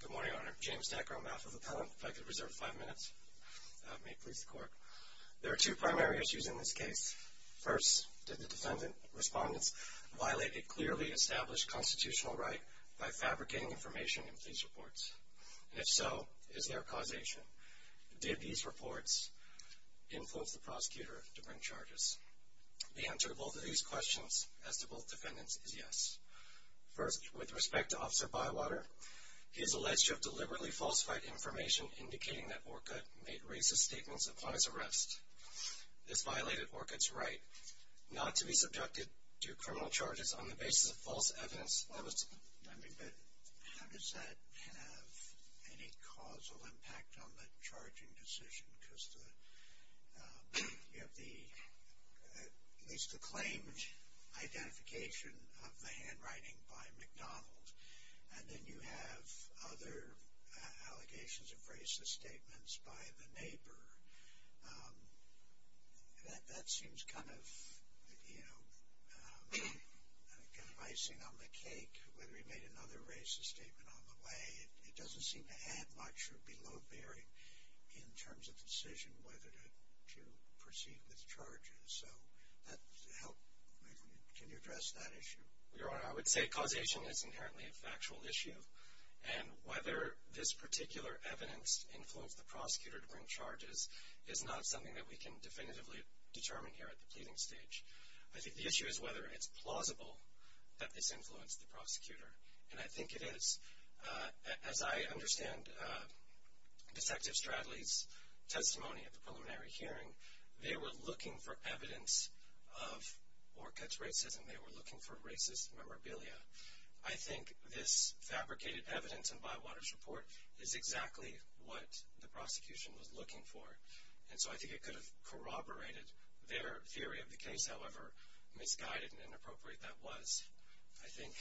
Good morning, Your Honor. James Decker on behalf of the appellant. If I could reserve five minutes, that may please the Court. There are two primary issues in this case. First, did the defendant, respondents, violate a clearly established constitutional right by fabricating information in police reports? And if so, is there a causation? Did these reports influence the prosecutor to bring charges? The answer to both of these questions, as to both defendants, is yes. First, with respect to Officer Bywater, he is alleged to have deliberately falsified information indicating that Orcutt made racist statements upon his arrest. This violated Orcutt's right not to be subjected to criminal charges on the basis of false evidence. How does that have any causal impact on the charging decision? Because you have at least the claimed identification of the handwriting by McDonald. And then you have other allegations of racist statements by the neighbor. That seems kind of, you know, icing on the cake. Whether he made another racist statement on the way, it doesn't seem to add much or be low-bearing in terms of the decision whether to proceed with charges. So, can you address that issue? Your Honor, I would say causation is inherently a factual issue. And whether this particular evidence influenced the prosecutor to bring charges is not something that we can definitively determine here at the pleading stage. I think the issue is whether it's plausible that this influenced the prosecutor. And I think it is. As I understand Detective Stradley's testimony at the preliminary hearing, they were looking for evidence of Orcutt's racism. They were looking for racist memorabilia. I think this fabricated evidence in Bywater's report is exactly what the prosecution was looking for. And so I think it could have corroborated their theory of the case, however misguided and inappropriate that was. I think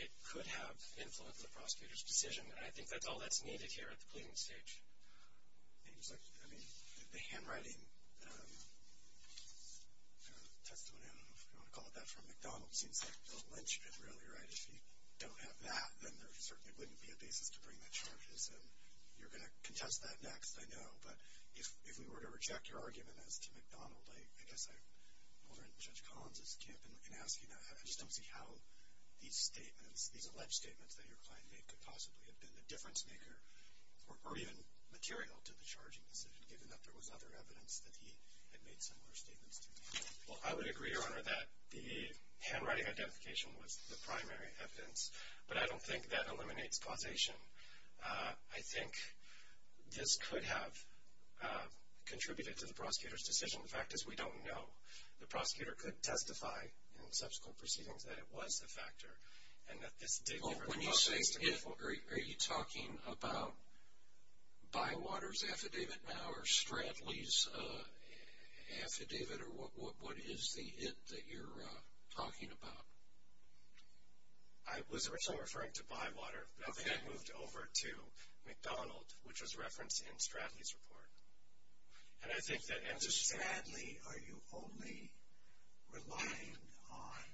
it could have influenced the prosecutor's decision. And I think that's all that's needed here at the pleading stage. I mean, the handwriting testimony, I don't know if you want to call it that, from McDonald's seems like a lynchpin really, right? If you don't have that, then there certainly wouldn't be a basis to bring the charges. And you're going to contest that next, I know. But if we were to reject your argument as to McDonald, I guess I'm holding Judge Collins's camp in asking that. I don't know if these alleged statements that your client made could possibly have been the difference maker or even material to the charging decision, given that there was other evidence that he had made similar statements to. Well, I would agree, Your Honor, that the handwriting identification was the primary evidence. But I don't think that eliminates causation. I think this could have contributed to the prosecutor's decision. The fact is, we don't know. The prosecutor could testify in subsequent proceedings that it was the factor. And that this did give her the confidence to go forward. Are you talking about Bywater's affidavit now or Stradley's affidavit? Or what is the it that you're talking about? I was originally referring to Bywater, but then I moved over to McDonald, which was referenced in Stradley's report. And Stradley, are you only relying on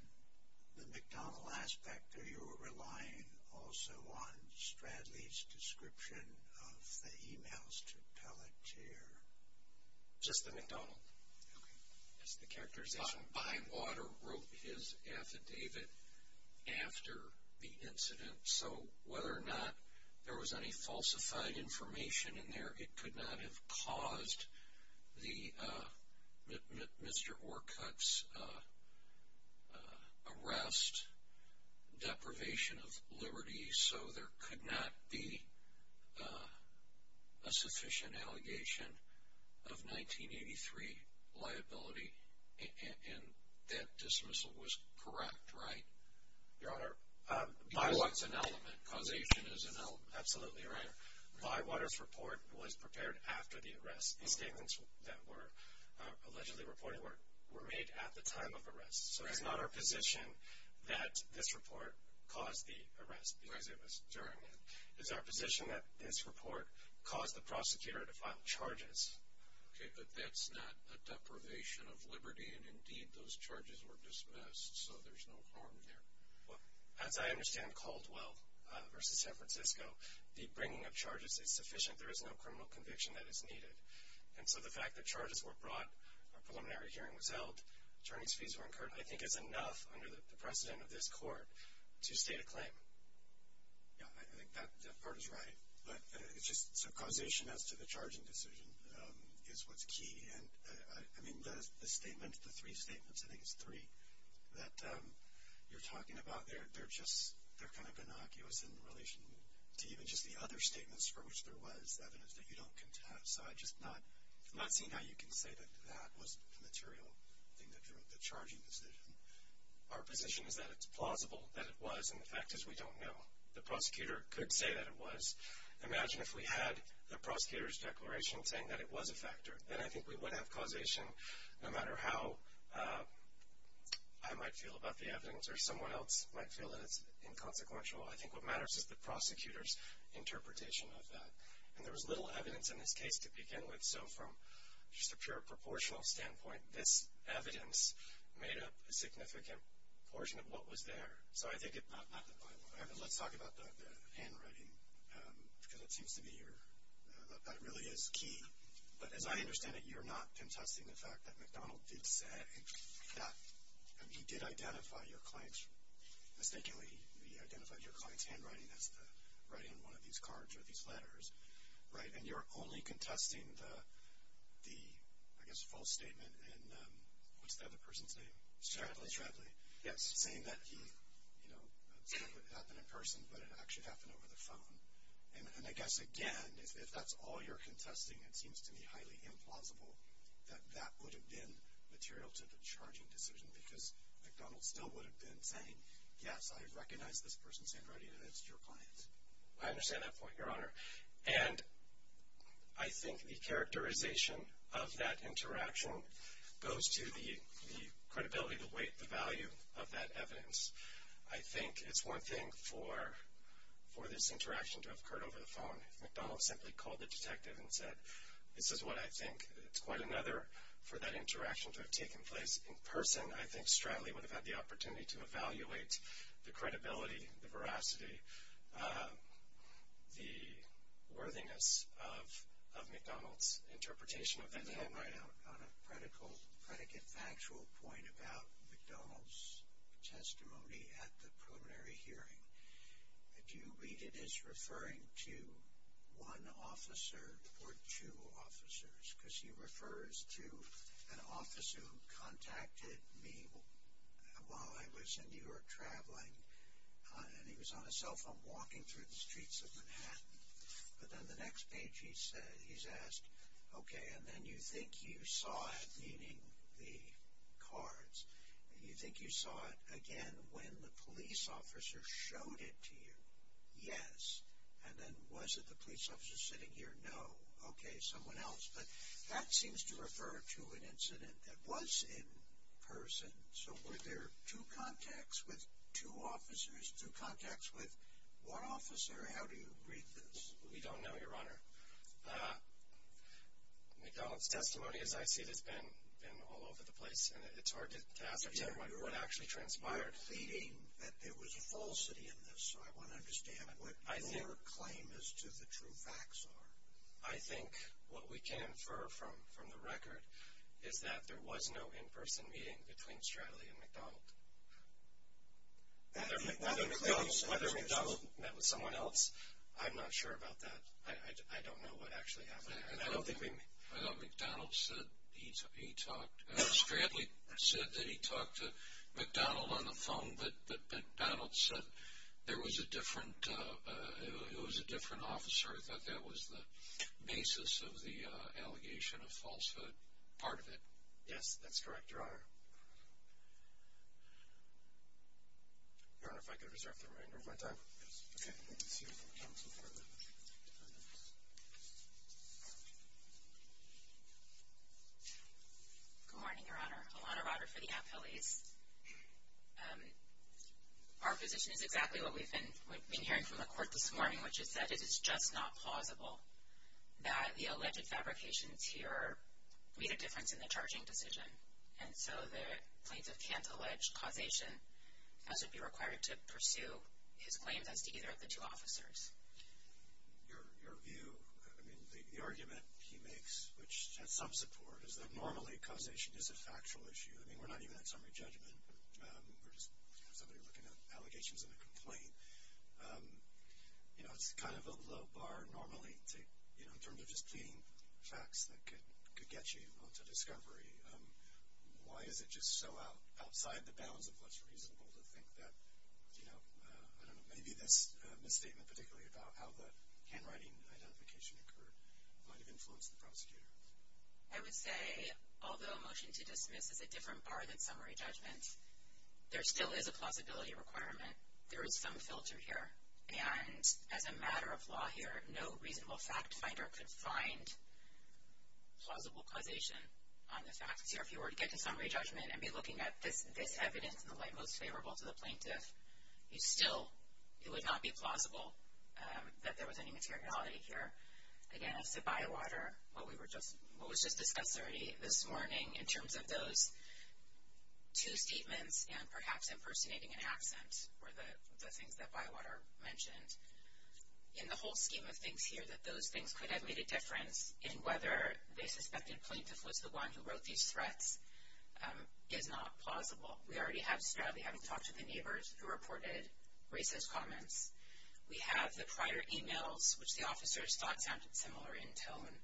the McDonald aspect, or are you relying also on Stradley's description of the emails to Pelletier? Just the McDonald. Okay. That's the characterization. Bywater wrote his affidavit after the incident. So whether or not there was any falsified information in there, it could not have caused Mr. Orcutt's arrest, deprivation of liberty. So there could not be a sufficient allegation of 1983 liability. And that dismissal was correct, right? Your Honor, Bywater is an element. Causation is an element. Absolutely, Your Honor. Bywater's report was prepared after the arrest. The statements that were allegedly reported were made at the time of arrest. So it's not our position that this report caused the arrest because it was during it. It's our position that this report caused the prosecutor to file charges. Okay, but that's not a deprivation of liberty. And, indeed, those charges were dismissed, so there's no harm there. Well, as I understand Caldwell v. San Francisco, the bringing of charges is sufficient. There is no criminal conviction that is needed. And so the fact that charges were brought, a preliminary hearing was held, attorney's fees were incurred, I think is enough under the precedent of this court to state a claim. Yeah, I think that part is right. So causation as to the charging decision is what's key. And, I mean, the statement, the three statements, I think it's three that you're talking about, they're kind of innocuous in relation to even just the other statements for which there was evidence that you don't contest. So I'm just not seeing how you can say that that wasn't the material thing that drew up the charging decision. Our position is that it's plausible that it was, and the fact is we don't know. The prosecutor could say that it was. Imagine if we had the prosecutor's declaration saying that it was a factor. Then I think we would have causation no matter how I might feel about the evidence or someone else might feel that it's inconsequential. I think what matters is the prosecutor's interpretation of that. And there was little evidence in this case to begin with. So from just a pure proportional standpoint, this evidence made up a significant portion of what was there. So I think it's not the final. Let's talk about the handwriting because it seems to be your, that really is key. But as I understand it, you're not contesting the fact that McDonald did say that he did identify your client's, mistakenly he identified your client's handwriting, that's the writing on one of these cards or these letters, right? And you're only contesting the, I guess, false statement and what's the other person's name? Stradley. Stradley. Yes. Saying that he, you know, said it happened in person but it actually happened over the phone. And I guess, again, if that's all you're contesting, it seems to me highly implausible that that would have been material to the charging decision because McDonald still would have been saying, yes, I recognize this person's handwriting and it's your client's. I understand that point, Your Honor. And I think the characterization of that interaction goes to the credibility, the weight, the value of that evidence. I think it's one thing for this interaction to have occurred over the phone. If McDonald simply called the detective and said, this is what I think, it's quite another for that interaction to have taken place in person, I think Stradley would have had the opportunity to evaluate the credibility, the veracity, the worthiness of McDonald's interpretation of that handwriting. All right. On a predicate factual point about McDonald's testimony at the preliminary hearing, do you read it as referring to one officer or two officers? Because he refers to an officer who contacted me while I was in New York traveling and he was on a cell phone walking through the streets of Manhattan. But then the next page he's asked, okay, and then you think you saw it, meaning the cards, and you think you saw it again when the police officer showed it to you. Yes. And then was it the police officer sitting here? No. Okay, someone else. But that seems to refer to an incident that was in person. So were there two contacts with two officers? Two contacts with one officer? How do you read this? We don't know, Your Honor. McDonald's testimony, as I see it, has been all over the place, and it's hard to ascertain what actually transpired. You're pleading that there was a falsity in this, so I want to understand what your claim as to the true facts are. I think what we can infer from the record is that there was no in-person meeting between Stradley and McDonald. Whether McDonald met with someone else, I'm not sure about that. I don't know what actually happened. I don't think we may. I thought McDonald said he talked. Stradley said that he talked to McDonald on the phone, but McDonald said there was a different officer, that that was the basis of the allegation of falsehood, part of it. Yes, that's correct, Your Honor. Your Honor, if I could reserve the remainder of my time. Yes. Okay. Let's see if we can get some further evidence. Good morning, Your Honor. Alana Rotter for the Appellees. Our position is exactly what we've been hearing from the court this morning, which is that it is just not plausible that the alleged fabrications here made a difference in the charging decision. And so the plaintiff can't allege causation, as would be required to pursue his claims as to either of the two officers. Your view, I mean, the argument he makes, which has some support, is that normally causation is a factual issue. I mean, we're not even at summary judgment. We're just somebody looking at allegations in a complaint. You know, it's kind of a low bar normally to, you know, in terms of just pleading facts that could get you onto discovery. Why is it just so outside the bounds of what's reasonable to think that, you know, I don't know, maybe this misstatement particularly about how the handwriting identification occurred might have influenced the prosecutor? I would say, although a motion to dismiss is a different bar than summary judgment, there still is a plausibility requirement. There is some filter here. And as a matter of law here, no reasonable fact finder could find plausible causation on the facts here. If you were to get to summary judgment and be looking at this evidence in the light most favorable to the plaintiff, you still, it would not be plausible that there was any materiality here. Again, as to Bywater, what was just discussed already this morning in terms of those two statements and perhaps impersonating an accent were the things that Bywater mentioned. In the whole scheme of things here, that those things could have made a difference in whether they suspected the plaintiff was the one who wrote these threats is not plausible. We already have Stradley having talked to the neighbors who reported racist comments. We have the prior e-mails, which the officers thought sounded similar in tone.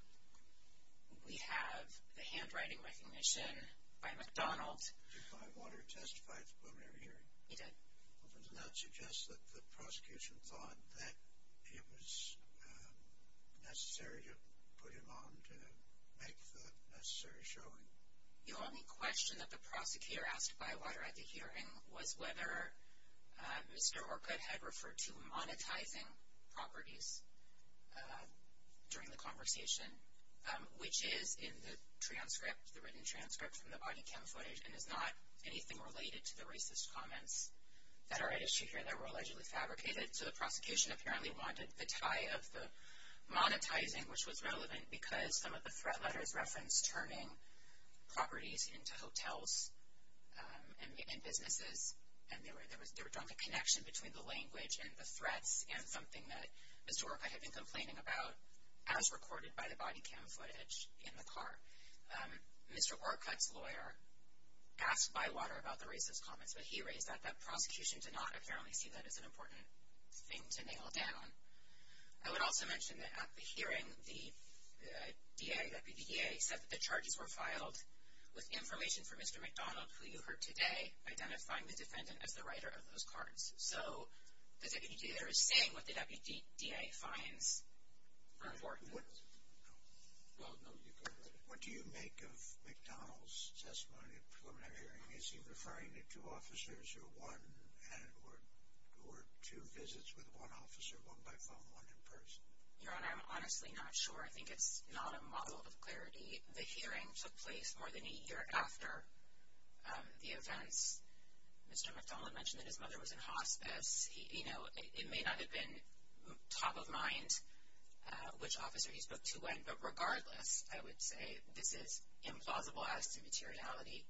We have the handwriting recognition by McDonald. Did Bywater testify at the preliminary hearing? He did. Does that suggest that the prosecution thought that it was necessary to put him on to make the necessary showing? The only question that the prosecutor asked Bywater at the hearing was whether Mr. Orcutt had referred to monetizing properties during the conversation, which is in the transcript, the written transcript from the body cam footage, and is not anything related to the racist comments that are at issue here that were allegedly fabricated. So the prosecution apparently wanted the tie of the monetizing, which was relevant because some of the threat letters referenced turning properties into hotels and businesses, and there was a connection between the language and the threats and something that Mr. Orcutt's lawyer asked Bywater about the racist comments, but he raised that that prosecution did not apparently see that as an important thing to nail down. I would also mention that at the hearing, the DA, Deputy DA, said that the charges were filed with information from Mr. McDonald, who you heard today, identifying the defendant as the writer of those cards. So the Deputy DA was saying what the Deputy DA finds important. What do you make of McDonald's testimony at the preliminary hearing? Is he referring to two officers or one or two visits with one officer, one by phone, one in person? Your Honor, I'm honestly not sure. I think it's not a model of clarity. The hearing took place more than a year after the events. Mr. McDonald mentioned that his mother was in hospice. You know, it may not have been top of mind which officer he spoke to when, but regardless, I would say this is implausible as to materiality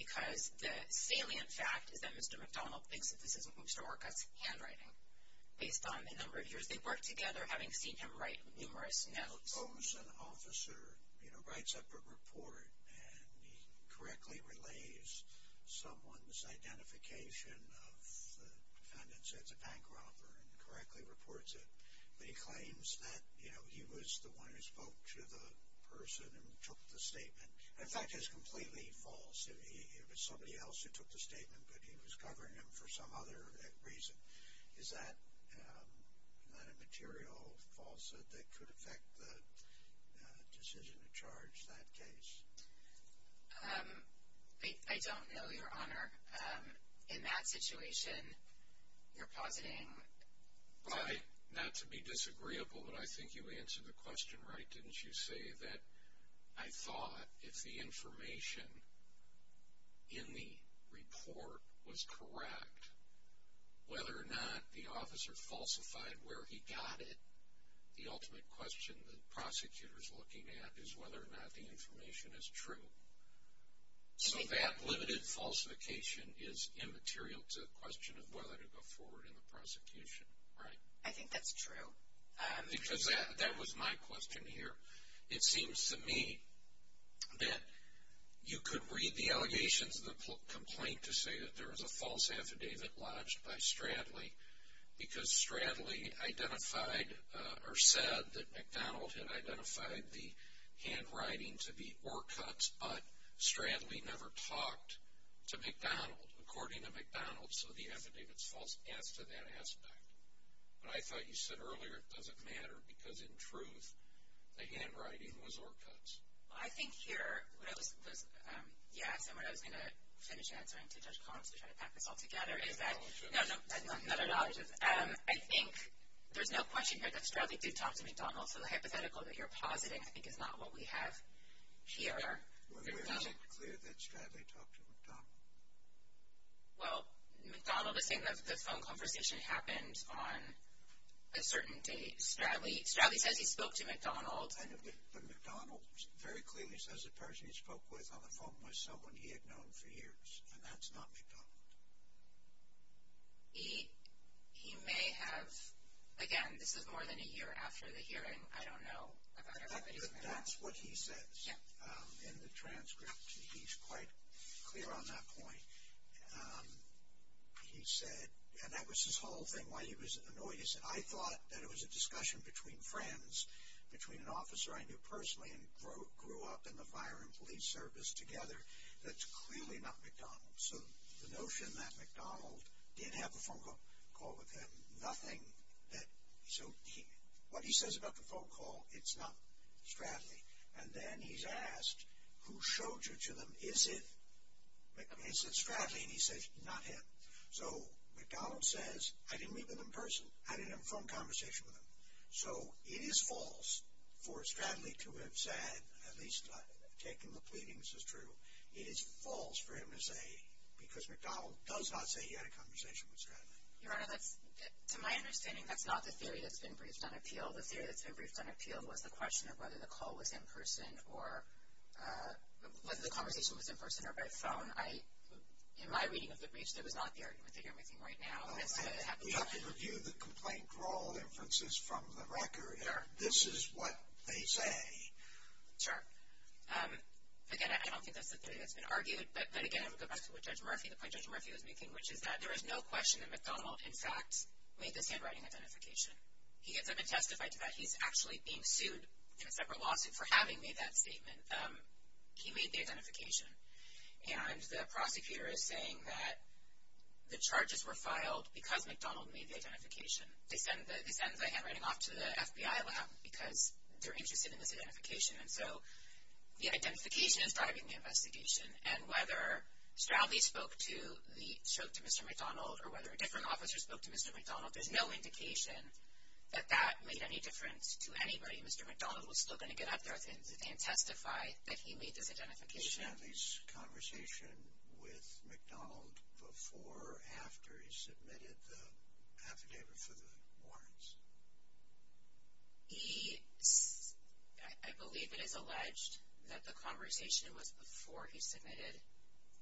because the salient fact is that Mr. McDonald thinks that this is Mr. Orcutt's handwriting. Based on the number of years they've worked together, having seen him write numerous notes. Suppose an officer writes up a report and he correctly relays someone's identification of the defendant, says it's a bank robber and correctly reports it, but he claims that he was the one who spoke to the person and took the statement. In fact, it's completely false. It was somebody else who took the statement, but he was covering him for some other reason. Is that a material falsehood that could affect the decision to charge that case? I don't know, Your Honor. In that situation, you're positing. Well, not to be disagreeable, but I think you answered the question right, didn't you, that I thought if the information in the report was correct, whether or not the officer falsified where he got it, the ultimate question the prosecutor's looking at is whether or not the information is true. So that limited falsification is immaterial to the question of whether to go forward in the prosecution, right? I think that's true. Because that was my question here. It seems to me that you could read the allegations of the complaint to say that there was a false affidavit lodged by Stradley because Stradley identified or said that McDonald had identified the handwriting to be ore cuts, but Stradley never talked to McDonald according to McDonald, so the affidavit's false as to that aspect. But I thought you said earlier it doesn't matter because, in truth, the handwriting was ore cuts. Well, I think here what I was going to finish answering to Judge Collins to try to pack this all together is that I think there's no question here that Stradley did talk to McDonald, so the hypothetical that you're positing I think is not what we have here. Well, is it clear that Stradley talked to McDonald? Well, McDonald is saying that the phone conversation happened on a certain date. Stradley says he spoke to McDonald. But McDonald very clearly says the person he spoke with on the phone was someone he had known for years, and that's not McDonald. He may have. Again, this is more than a year after the hearing. I don't know. That's what he says in the transcript. He's quite clear on that point. He said, and that was his whole thing, why he was annoyed. He said, I thought that it was a discussion between friends, between an officer I knew personally and grew up in the fire and police service together, that's clearly not McDonald. So the notion that McDonald did have a phone call with him, nothing that, so what he says about the phone call, it's not Stradley. And then he's asked, who showed you to them? Is it Stradley? And he says, not him. So McDonald says, I didn't meet with him in person. I didn't have a phone conversation with him. So it is false for Stradley to have said, at least taking the pleadings as true, it is false for him to say, because McDonald does not say he had a conversation with Stradley. Your Honor, to my understanding, that's not the theory that's been briefed on appeal. The theory that's been briefed on appeal was the question of whether the call was in person or whether the conversation was in person or by phone. In my reading of the briefs, that was not the argument that you're making right now. We have to review the complaint for all inferences from the record. This is what they say. Sure. Again, I don't think that's the theory that's been argued. But, again, I would go back to what Judge Murphy, the point Judge Murphy was making, which is that there is no question that McDonald, in fact, made the handwriting identification. He hasn't been testified to that. He's actually being sued in a separate lawsuit for having made that statement. He made the identification. And the prosecutor is saying that the charges were filed because McDonald made the identification. They send the handwriting off to the FBI lab because they're interested in this identification. And so the identification is driving the investigation. And whether Stradley spoke to the stroke to Mr. McDonald or whether a different officer spoke to Mr. McDonald, there's no indication that that made any difference to anybody. Mr. McDonald was still going to get up there and testify that he made this identification. Did Stradley's conversation with McDonald before or after he submitted the affidavit for the warrants? I believe it is alleged that the conversation was before he submitted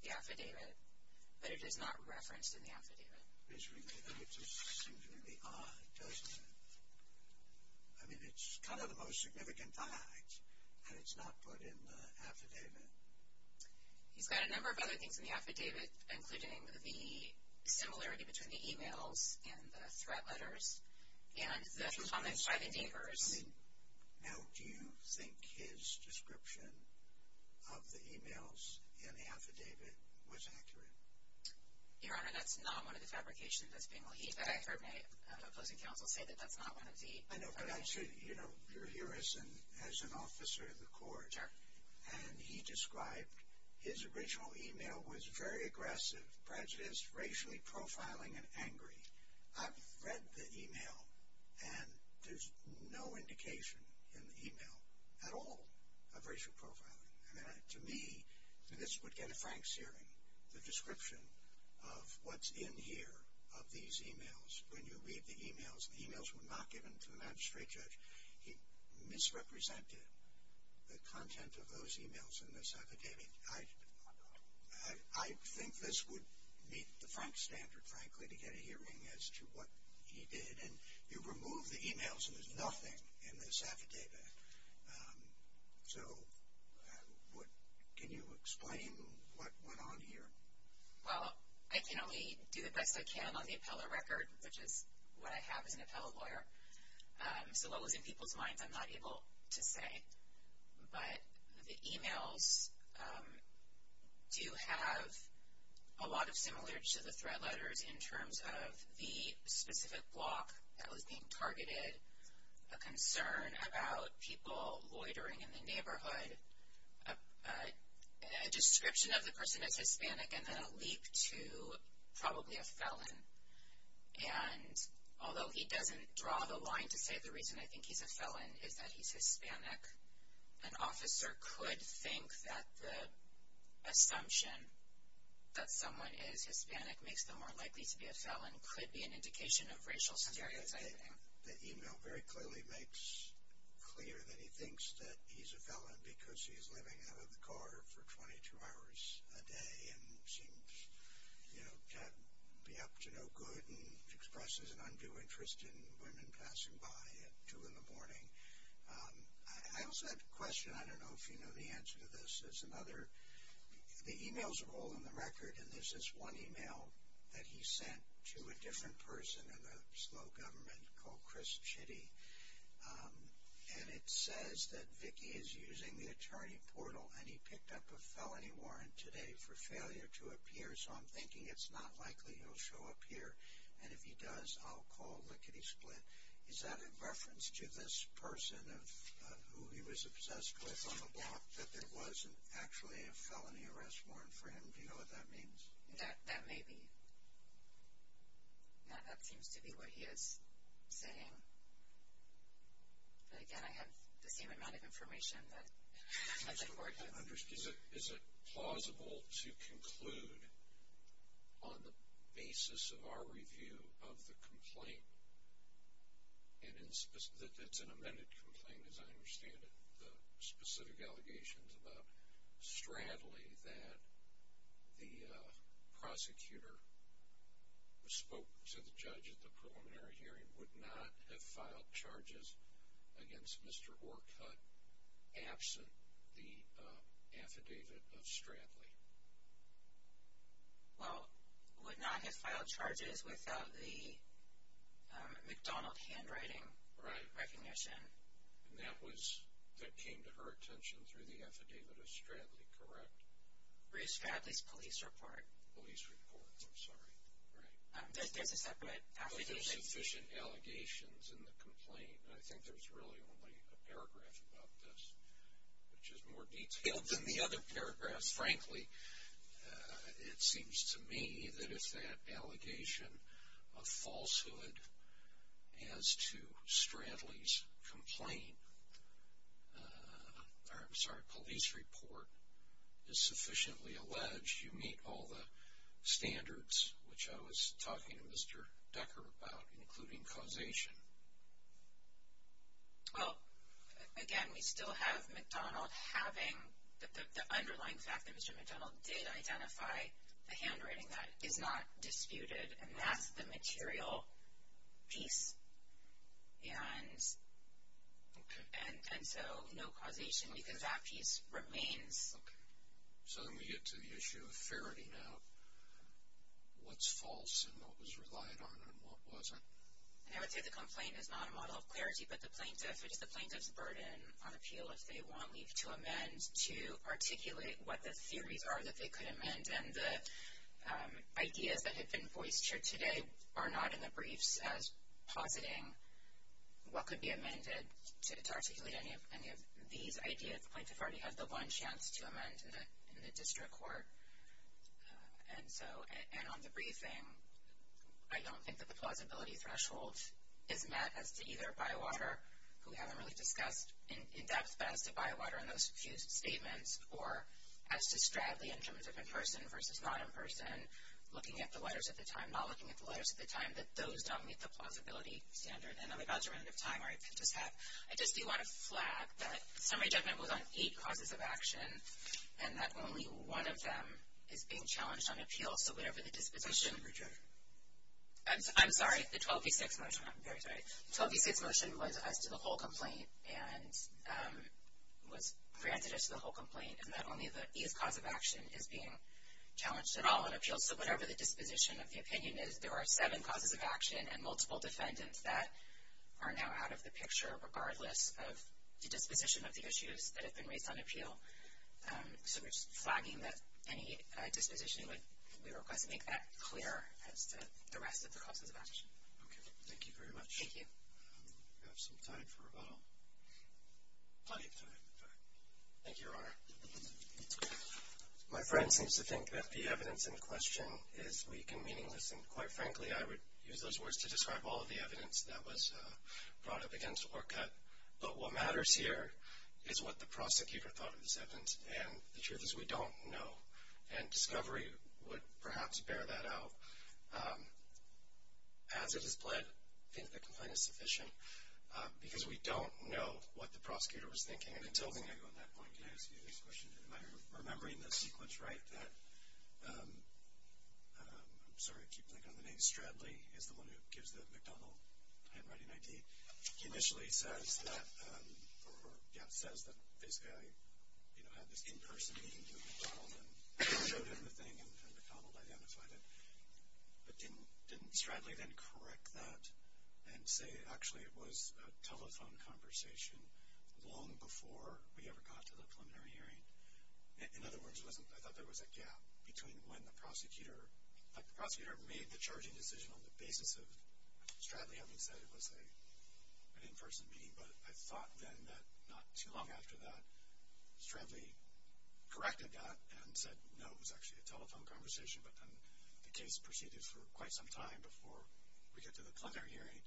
the affidavit, but it is not referenced in the affidavit. It just seems really odd, doesn't it? I mean, it's kind of the most significant ties, and it's not put in the affidavit. He's got a number of other things in the affidavit, including the similarity between the e-mails and the threat letters and the comments by the neighbors. Now, do you think his description of the e-mails in the affidavit was accurate? Your Honor, that's not one of the fabrications that's being laid. I've heard my opposing counsel say that that's not one of the fabrications. I know, but I should, you know, you're here as an officer of the court. Sure. And he described his original e-mail was very aggressive, prejudiced, racially profiling, and angry. I've read the e-mail, and there's no indication in the e-mail at all of racial profiling. I mean, to me, this would get a Frank's hearing, the description of what's in here of these e-mails. When you read the e-mails, the e-mails were not given to the magistrate judge. He misrepresented the content of those e-mails in this affidavit. I think this would meet the Frank standard, frankly, to get a hearing as to what he did. And you remove the e-mails, and there's nothing in this affidavit. So can you explain what went on here? Well, I can only do the best I can on the appellate record, which is what I have as an appellate lawyer. So what was in people's minds I'm not able to say. But the e-mails do have a lot of similar to the threat letters in terms of the specific block that was being targeted, a concern about people loitering in the neighborhood, a description of the person as Hispanic, and then a leap to probably a felon. And although he doesn't draw the line to say the reason I think he's a felon is that he's Hispanic, an officer could think that the assumption that someone is Hispanic makes them more likely to be a felon could be an indication of racial stereotyping. The e-mail very clearly makes clear that he thinks that he's a felon because he's living out of the car for 22 hours a day and seems to be up to no good and expresses an undue interest in women passing by at 2 in the morning. I also had a question. I don't know if you know the answer to this. The e-mails are all in the record, and there's this one e-mail that he sent to a different person in the slow government called Chris Chitty. And it says that Vicki is using the attorney portal, and he picked up a felony warrant today for failure to appear, so I'm thinking it's not likely he'll show up here. And if he does, I'll call Lickety Split. Is that a reference to this person who he was obsessed with on the block, that there wasn't actually a felony arrest warrant for him? Do you know what that means? That may be. No, that seems to be what he is saying. But, again, I have the same amount of information that the court has. Is it plausible to conclude on the basis of our review of the complaint, that it's an amended complaint as I understand it, specific allegations about Stradley, that the prosecutor who spoke to the judge at the preliminary hearing would not have filed charges against Mr. Orcutt, absent the affidavit of Stradley? Well, would not have filed charges without the McDonald handwriting recognition. And that came to her attention through the affidavit of Stradley, correct? It was Stradley's police report. Police report, I'm sorry, right. There's a separate affidavit. There's sufficient allegations in the complaint, and I think there's really only a paragraph about this, which is more detailed than the other paragraphs, frankly. It seems to me that if that allegation of falsehood as to Stradley's complaint, or I'm sorry, police report is sufficiently alleged, you meet all the standards which I was talking to Mr. Decker about, including causation. Well, again, we still have McDonald having the underlying fact that Mr. McDonald did identify the handwriting. That is not disputed, and that's the material piece. And so no causation, because that piece remains. Okay. So then we get to the issue of fairty now. What's false and what was relied on and what wasn't? And I would say the complaint is not a model of clarity, but the plaintiff, it's the plaintiff's burden on appeal if they want leave to amend, to articulate what the theories are that they could amend. And the ideas that have been voiced here today are not in the briefs as positing what could be amended to articulate any of these ideas. The plaintiff already had the one chance to amend in the district court. And so on the briefing, I don't think that the plausibility threshold is met as to either by water, who we haven't really discussed in depth, but as to by water in those few statements, or as to straggly in terms of in-person versus not in-person, looking at the letters at the time, not looking at the letters at the time, that those don't meet the plausibility standard. And on the dodgement of time, I just do want to flag that summary judgment was on eight causes of action and that only one of them is being challenged on appeal. So whatever the disposition. Summary judgment. I'm sorry, the 12v6 motion. I'm very sorry. The 12v6 motion was as to the whole complaint and was granted as to the whole complaint and that only the eighth cause of action is being challenged at all on appeal. So whatever the disposition of the opinion is, there are seven causes of action and multiple defendants that are now out of the picture regardless of the disposition of the issues that have been raised on appeal. So we're just flagging that any disposition we request make that clear as to the rest of the causes of action. Okay. Thank you very much. Thank you. Do we have some time for rebuttal? Plenty of time. Thank you, Your Honor. My friend seems to think that the evidence in question is weak and meaningless, and quite frankly I would use those words to describe all of the evidence that was brought up against Orcutt. But what matters here is what the prosecutor thought of the sentence, and the truth is we don't know. And discovery would perhaps bear that out. As it is pled, I think the complaint is sufficient because we don't know what the prosecutor was thinking. And until then, I go on that point. Can I ask you the next question? Am I remembering the sequence right? I'm sorry, I keep thinking of the name. Stradley is the one who gives the McDonald handwriting ID. He initially says that this guy, you know, had this in-person meeting with McDonald and showed him the thing and McDonald identified it, but didn't Stradley then correct that and say actually it was a telephone conversation long before we ever got to the preliminary hearing? In other words, I thought there was a gap between when the prosecutor, like the prosecutor made the charging decision on the basis of Stradley having said it was an in-person meeting, but I thought then that not too long after that, Stradley corrected that and said no, it was actually a telephone conversation, but then the case proceeded for quite some time before we get to the preliminary hearing.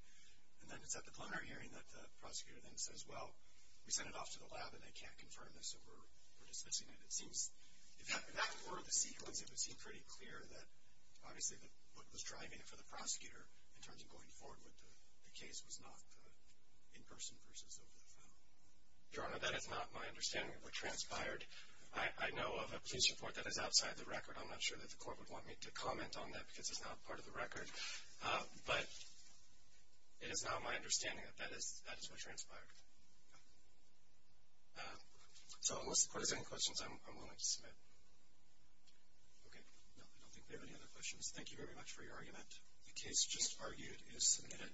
And then it's at the preliminary hearing that the prosecutor then says, well, we sent it off to the lab and they can't confirm this so we're dismissing it. If that were the sequence, it would seem pretty clear that obviously what was driving it for the prosecutor in terms of going forward with the case was not the in-person versus over the phone. Your Honor, that is not my understanding of what transpired. I know of a police report that is outside the record. I'm not sure that the court would want me to comment on that because it's not part of the record, but it is not my understanding that that is what transpired. So unless the court has any questions, I'm willing to submit. Okay. No, I don't think we have any other questions. Thank you very much for your argument. The case just argued is submitted.